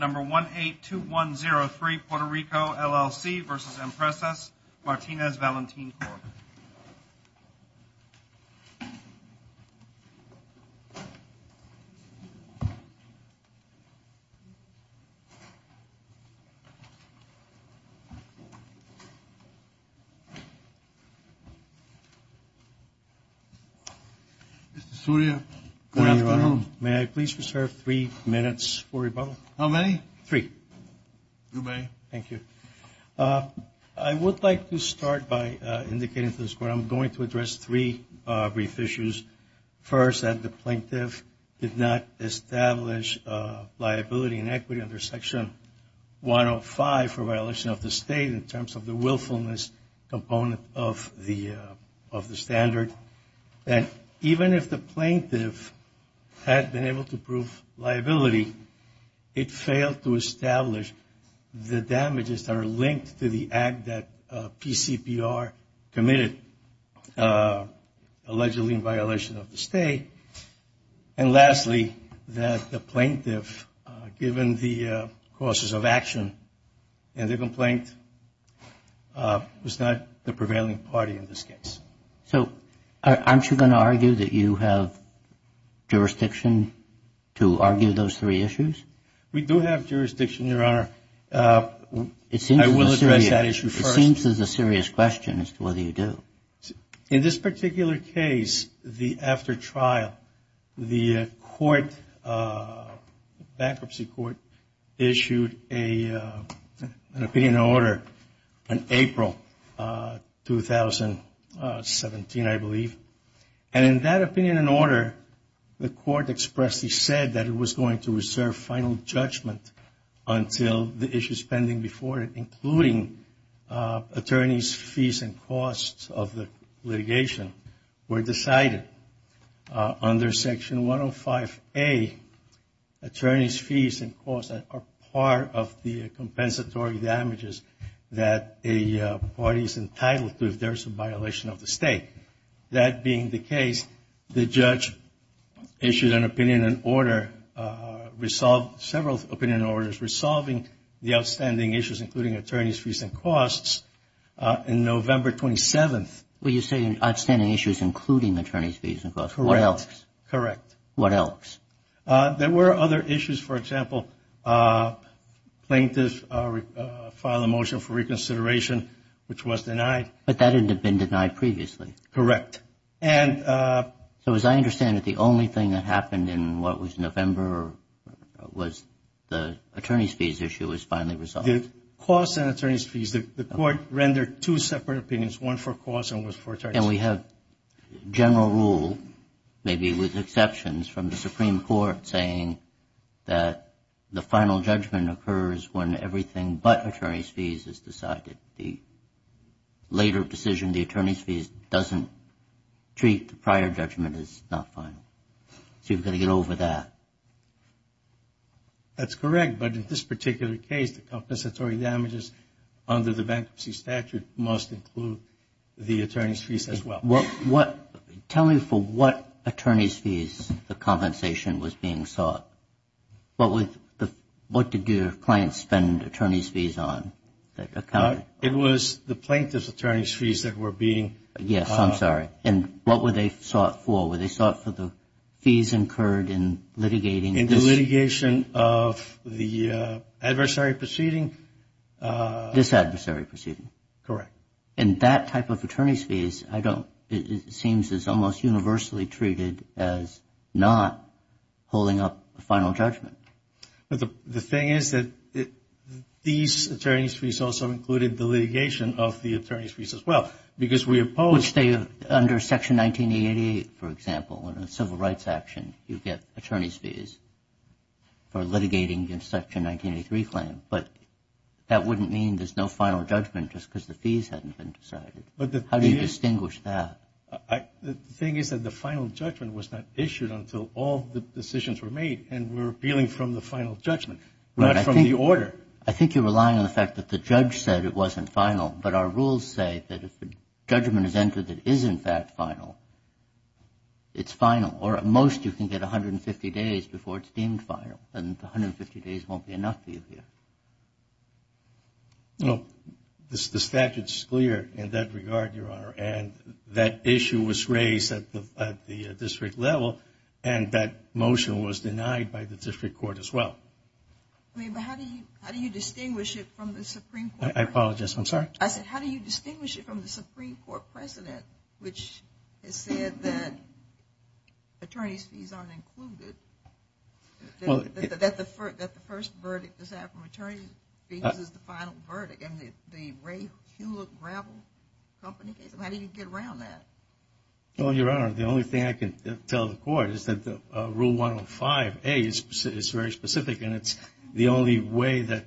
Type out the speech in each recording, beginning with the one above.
182103 Puerto Rico, LLC v. Empresas Martinez Valentin Corp. Mr. Soria, good afternoon. May I please reserve three minutes for rebuttal? How many? Three. You may. Thank you. I would like to start by indicating to this Court I'm going to address three brief issues. First, that the plaintiff did not establish liability and equity under Section 105 for violation of the State in terms of the willfulness component of the standard. Second, that even if the plaintiff had been able to prove liability, it failed to establish the damages that are linked to the act that PCPR committed allegedly in violation of the State. And lastly, that the plaintiff, given the causes of action in the complaint, was not the prevailing party in this case. So aren't you going to argue that you have jurisdiction to argue those three issues? We do have jurisdiction, Your Honor. I will address that issue first. It seems there's a serious question as to whether you do. In this particular case, the after trial, the court, bankruptcy court, issued an opinion in order in April 2017, I believe. And in that opinion and order, the court expressly said that it was going to reserve final judgment until the issues pending before it, including attorneys' fees and costs of the litigation, were decided under Section 105A. Attorneys' fees and costs are part of the compensatory damages that a party is entitled to if there is a violation of the State. That being the case, the judge issued an opinion in order, resolved several opinion orders, resolving the outstanding issues, including attorneys' fees and costs, in November 27th. Well, you're saying outstanding issues including attorneys' fees and costs. Correct. What else? There were other issues. For example, plaintiff filed a motion for reconsideration, which was denied. But that had been denied previously. Correct. So as I understand it, the only thing that happened in what was November was the attorneys' fees issue was finally resolved. The costs and attorneys' fees, the court rendered two separate opinions, one for costs and one for attorneys' fees. And we have general rule, maybe with exceptions, from the Supreme Court saying that the final judgment occurs when everything but the later decision, the attorneys' fees, doesn't treat the prior judgment as not final. So you've got to get over that. That's correct. But in this particular case, the compensatory damages under the bankruptcy statute must include the attorneys' fees as well. Tell me for what attorneys' fees the compensation was being sought. What did your client spend attorneys' fees on? It was the plaintiff's attorneys' fees that were being. Yes, I'm sorry. And what were they sought for? Were they sought for the fees incurred in litigating this? In the litigation of the adversary proceeding. This adversary proceeding. Correct. And that type of attorneys' fees, I don't, it seems is almost universally treated as not holding up the final judgment. The thing is that these attorneys' fees also included the litigation of the attorneys' fees as well. Because we opposed. Which they, under Section 1988, for example, in a civil rights action, you get attorneys' fees for litigating the Section 1983 claim. But that wouldn't mean there's no final judgment just because the fees hadn't been decided. How do you distinguish that? The thing is that the final judgment was not issued until all the decisions were made. And we're appealing from the final judgment, not from the order. I think you're relying on the fact that the judge said it wasn't final. But our rules say that if a judgment is entered that isn't that final, it's final. Or at most you can get 150 days before it's deemed final. And 150 days won't be enough for you here. No. The statute's clear in that regard, Your Honor. And that issue was raised at the district level. And that motion was denied by the district court as well. I mean, but how do you distinguish it from the Supreme Court? I apologize. I'm sorry? I said how do you distinguish it from the Supreme Court precedent which has said that attorneys' fees aren't included? That the first verdict is that from attorneys' fees is the final verdict. And the Ray Hewlett gravel company case, how do you get around that? Well, Your Honor, the only thing I can tell the court is that Rule 105A is very specific. And it's the only way that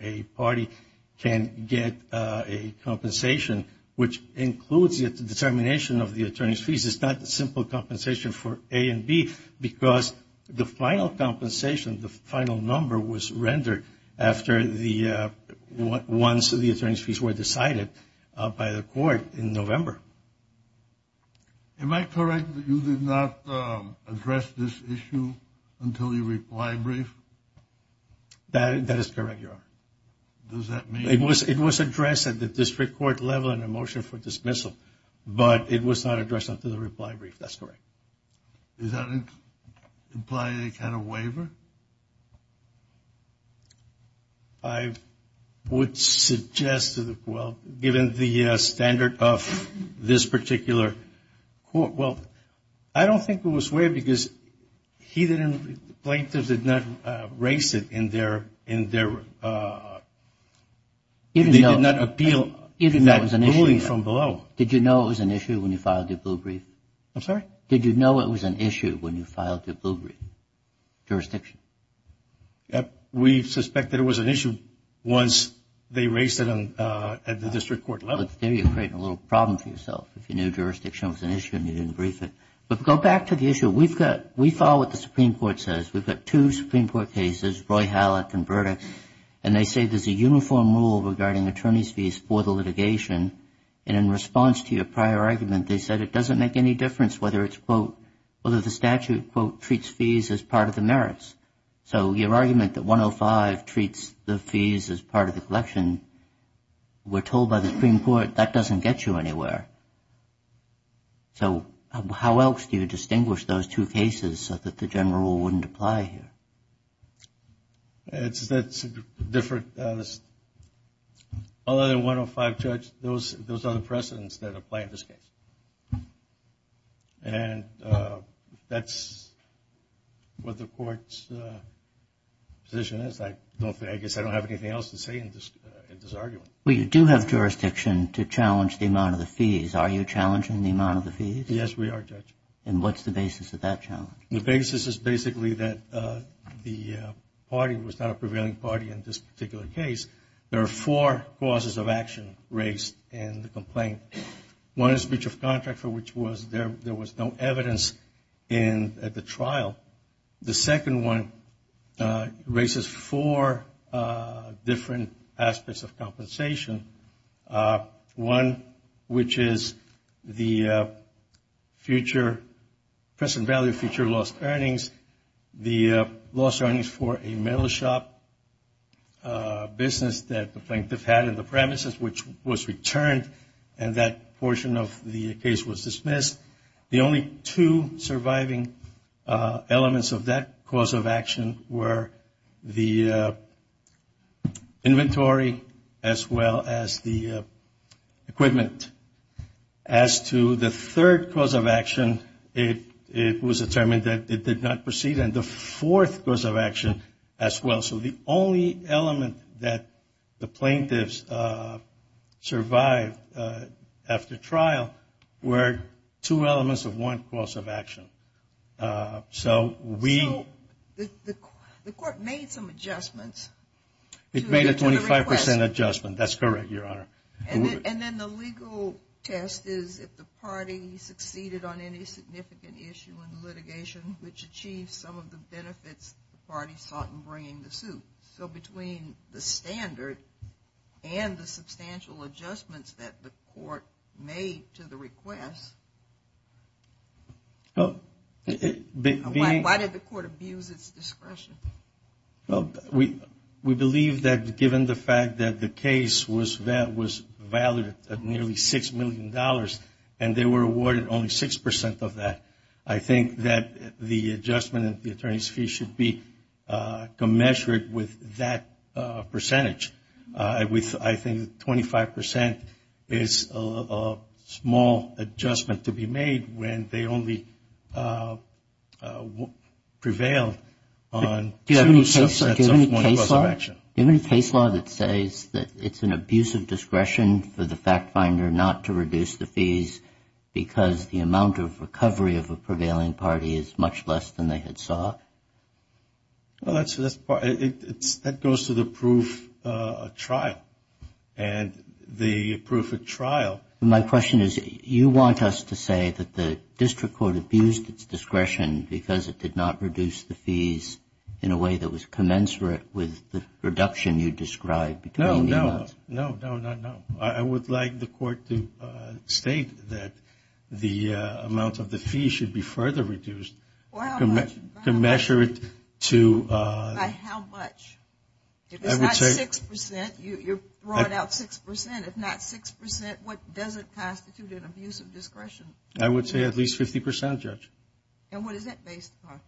a party can get a compensation which includes the determination of the attorney's fees. It's not a simple compensation for A and B because the final compensation, the final number, was rendered after the ones of the attorney's fees were decided by the court in November. Am I correct that you did not address this issue until you replied brief? That is correct, Your Honor. Does that mean? It was addressed at the district court level in a motion for dismissal. But it was not addressed until the reply brief. That's correct. Does that imply any kind of waiver? I would suggest, well, given the standard of this particular court, well, I don't think it was waived because he didn't, plaintiffs did not raise it in their, in their, they did not appeal that ruling from below. Did you know it was an issue when you filed your blue brief? I'm sorry? Did you know it was an issue when you filed your blue brief? Jurisdiction? We suspected it was an issue once they raised it at the district court level. There you're creating a little problem for yourself. If you knew jurisdiction was an issue and you didn't brief it. But go back to the issue. We've got, we follow what the Supreme Court says. We've got two Supreme Court cases, Roy Hallett and Burdick. And they say there's a uniform rule regarding attorney's fees for the litigation. And in response to your prior argument, they said it doesn't make any difference whether it's, quote, whether the statute, quote, treats fees as part of the merits. So your argument that 105 treats the fees as part of the collection, we're told by the Supreme Court that doesn't get you anywhere. So how else do you distinguish those two cases so that the general rule wouldn't apply here? That's different. Other than 105, Judge, those are the precedents that apply in this case. And that's what the court's position is. I guess I don't have anything else to say in this argument. Well, you do have jurisdiction to challenge the amount of the fees. Are you challenging the amount of the fees? Yes, we are, Judge. And what's the basis of that challenge? The basis is basically that the party was not a prevailing party in this particular case. There are four causes of action raised in the complaint. One is breach of contract, for which there was no evidence at the trial. The second one raises four different aspects of compensation, one which is the present value of future lost earnings, the lost earnings for a metal shop business that the plaintiff had in the premises, which was returned and that portion of the case was dismissed. The only two surviving elements of that cause of action were the inventory, as well as the equipment. As to the third cause of action, it was determined that it did not proceed, and the fourth cause of action as well. So the only element that the plaintiffs survived after trial were two elements of one cause of action. So we — So the court made some adjustments to the request. Yes, an adjustment. That's correct, Your Honor. And then the legal test is if the party succeeded on any significant issue in litigation, which achieved some of the benefits the party sought in bringing the suit. So between the standard and the substantial adjustments that the court made to the request, why did the court abuse its discretion? Well, we believe that given the fact that the case was valid at nearly $6 million and they were awarded only 6 percent of that, I think that the adjustment in the attorney's fee should be commensurate with that percentage. I think 25 percent is a small adjustment to be made when they only prevailed on two subsets of one cause of action. Do you have any case law that says that it's an abuse of discretion for the fact finder not to reduce the fees because the amount of recovery of a prevailing party is much less than they had sought? Well, that goes to the proof of trial. And the proof of trial. My question is you want us to say that the district court abused its discretion because it did not reduce the fees in a way that was commensurate with the reduction you described between the amounts. No, no. No, no, no, no. I would like the court to state that the amount of the fee should be further reduced. Or how much? Commensurate to. By how much? If it's not 6 percent, you're throwing out 6 percent. If not 6 percent, what doesn't constitute an abuse of discretion? I would say at least 50 percent, Judge. And what is that based upon?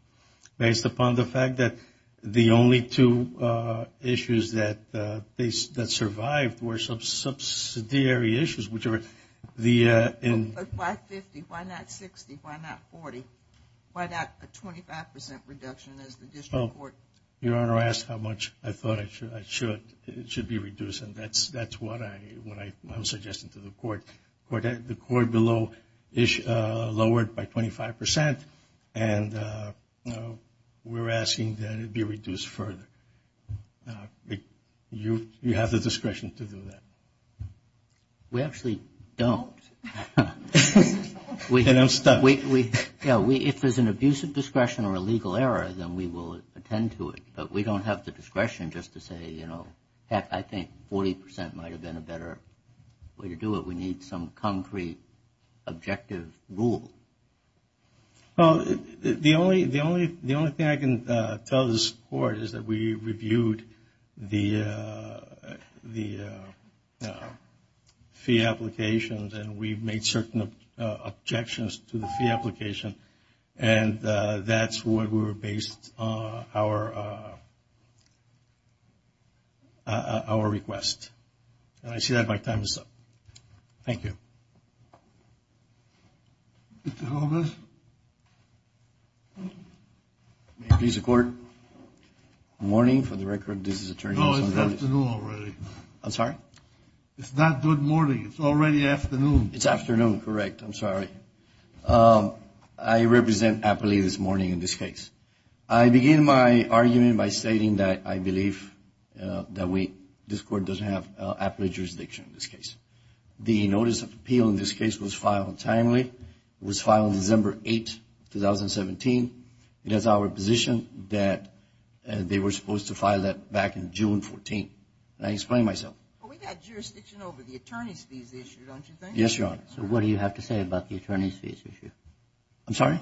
Based upon the fact that the only two issues that survived were subsidiary issues, whichever. Why 50? Why not 60? Why not 40? Why not a 25 percent reduction as the district court? Your Honor, I asked how much I thought it should be reduced, and that's what I'm suggesting to the court. The court below lowered by 25 percent, and we're asking that it be reduced further. You have the discretion to do that. We actually don't. And I'm stuck. Yeah, if there's an abuse of discretion or a legal error, then we will attend to it. But we don't have the discretion just to say, you know, heck, I think 40 percent might have been a better way to do it. We need some concrete objective rule. Well, the only thing I can tell this court is that we reviewed the fee applications, and we made certain objections to the fee application, and that's what we were based on our request. And I see that my time is up. Thank you. Mr. Gomez? May it please the Court? Good morning. For the record, this is Attorney Alexander Gomez. No, it's afternoon already. I'm sorry? It's not good morning. It's already afternoon. It's afternoon. Correct. I'm sorry. I represent Apley this morning in this case. I begin my argument by stating that I believe that this court doesn't have Apley jurisdiction in this case. The notice of appeal in this case was filed timely. It was filed December 8, 2017. It is our position that they were supposed to file that back in June 14. And I explain myself. Well, we've got jurisdiction over the attorney's fees issue, don't you think? Yes, Your Honor. So what do you have to say about the attorney's fees issue? I'm sorry?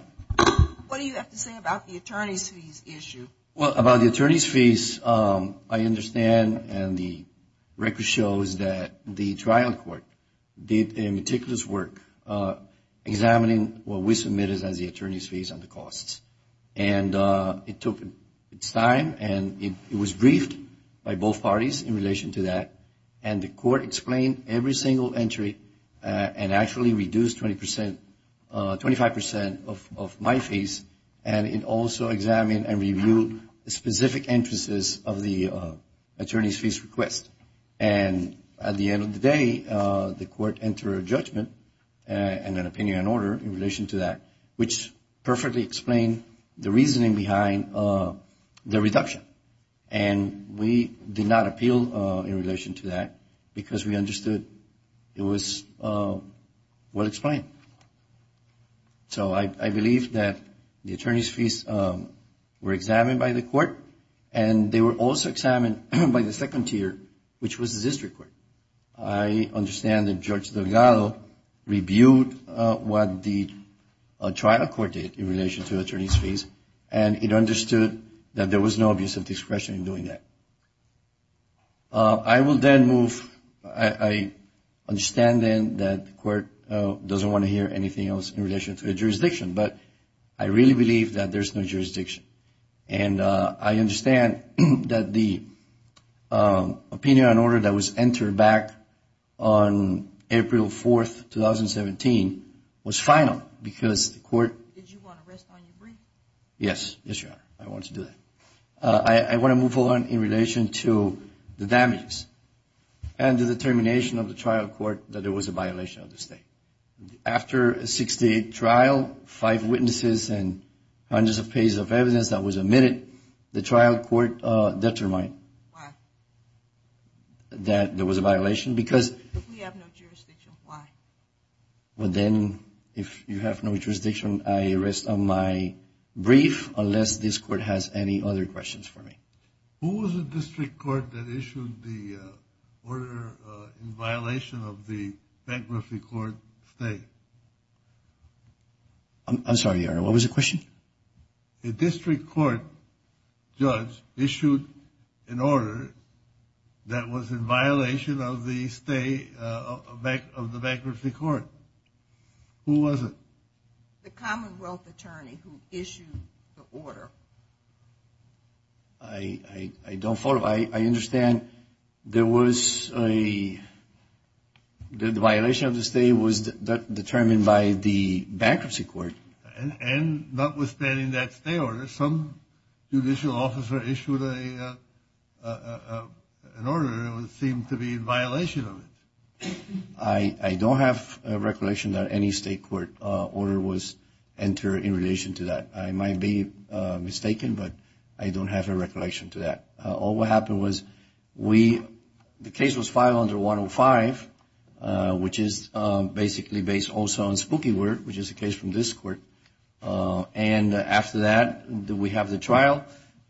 What do you have to say about the attorney's fees issue? Well, about the attorney's fees, I understand and the record shows that the trial court did meticulous work examining what we submitted as the attorney's fees and the costs. And it took its time and it was briefed by both parties in relation to that. And the court explained every single entry and actually reduced 25 percent of my fees. And it also examined and reviewed specific entrances of the attorney's fees request. And at the end of the day, the court entered a judgment and an opinion on order in relation to that, which perfectly explained the reasoning behind the reduction. And we did not appeal in relation to that because we understood it was well explained. So I believe that the attorney's fees were examined by the court and they were also examined by the second tier, which was the district court. I understand that Judge Delgado reviewed what the trial court did in relation to attorney's fees and it understood that there was no abuse of discretion in doing that. I will then move. I understand then that the court doesn't want to hear anything else in relation to the jurisdiction, but I really believe that there's no jurisdiction. And I understand that the opinion on order that was entered back on April 4th, 2017, was final because the court... Did you want to rest on your breath? Yes. Yes, Your Honor. I wanted to do that. I want to move on in relation to the damages and the determination of the trial court that there was a violation of the state. After a 60-day trial, five witnesses and hundreds of pages of evidence that was admitted, the trial court determined that there was a violation because... If we have no jurisdiction, why? Who was the district court that issued the order in violation of the bankruptcy court stay? I'm sorry, Your Honor. What was the question? The district court judge issued an order that was in violation of the bankruptcy court. Who was it? The Commonwealth attorney who issued the order. I don't follow. I understand there was a... The violation of the stay was determined by the bankruptcy court. And notwithstanding that stay order, some judicial officer issued an order that seemed to be in violation of it. I don't have a recollection that any state court order was entered in relation to that. I might be mistaken, but I don't have a recollection to that. All what happened was we... The case was filed under 105, which is basically based also on Spooky Word, which is a case from this court. And after that, we have the trial.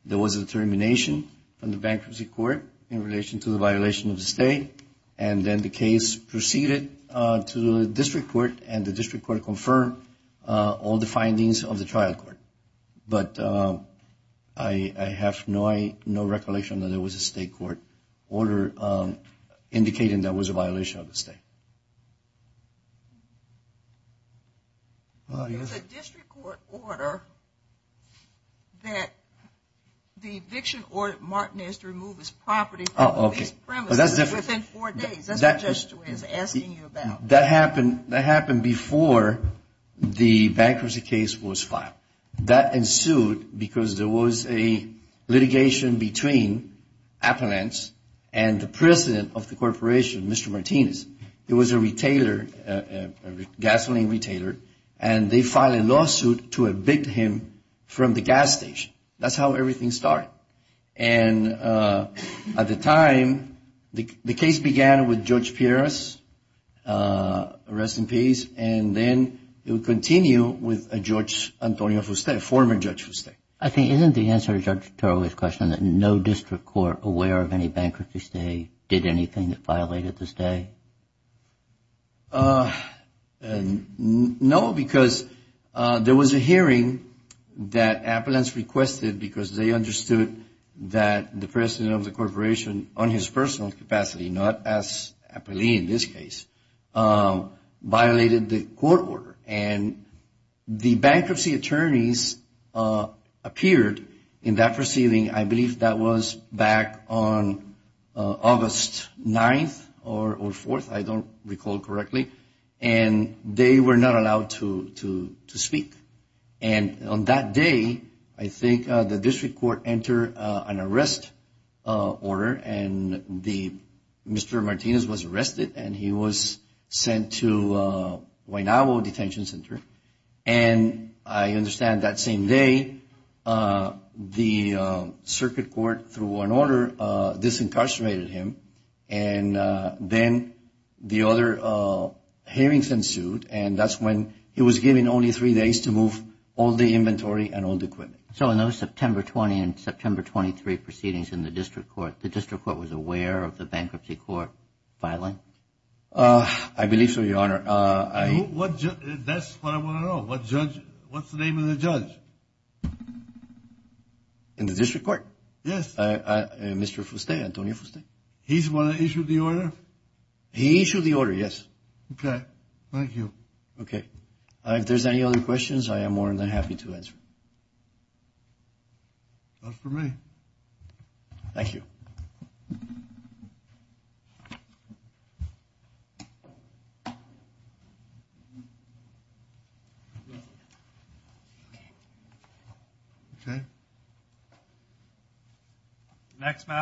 There was a determination from the bankruptcy court in relation to the violation of the stay. And then the case proceeded to the district court. And the district court confirmed all the findings of the trial court. But I have no recollection that there was a state court order indicating there was a violation of the stay. There was a district court order that the eviction order... Martin has to remove his property from his premises within four days. That's what Judge Stewart is asking you about. That happened before the bankruptcy case was filed. That ensued because there was a litigation between Appalachians and the president of the corporation, Mr. Martinez. It was a retailer, a gasoline retailer, and they filed a lawsuit to evict him from the gas station. That's how everything started. And at the time, the case began with Judge Pierras, rest in peace, and then it would continue with Judge Antonio Fuste, a former Judge Fuste. I think isn't the answer to Judge Tarullo's question that no district court aware of any bankruptcy stay did anything that violated the stay? No, because there was a hearing that Appalachians requested because they understood that the president of the corporation, on his personal capacity, not as Appalachian in this case, violated the court order. The bankruptcy attorneys appeared in that proceeding, I believe that was back on August 9th or 4th, I don't recall correctly, and they were not allowed to speak. And on that day, I think the district court entered an arrest order, and Mr. Martinez was arrested and he was sent to Huaynabo Detention Center. And I understand that same day, the circuit court, through an order, disincarcerated him. And then the other hearings ensued, and that's when he was given only three days to move all the inventory and all the equipment. So in those September 20 and September 23 proceedings in the district court, the district court was aware of the bankruptcy court filing? I believe so, Your Honor. That's what I want to know. What's the name of the judge? In the district court? Yes. Mr. Fuste, Antonio Fuste. He's the one that issued the order? He issued the order, yes. Okay, thank you. Okay, if there's any other questions, I am more than happy to answer. That's for me. Thank you. Okay.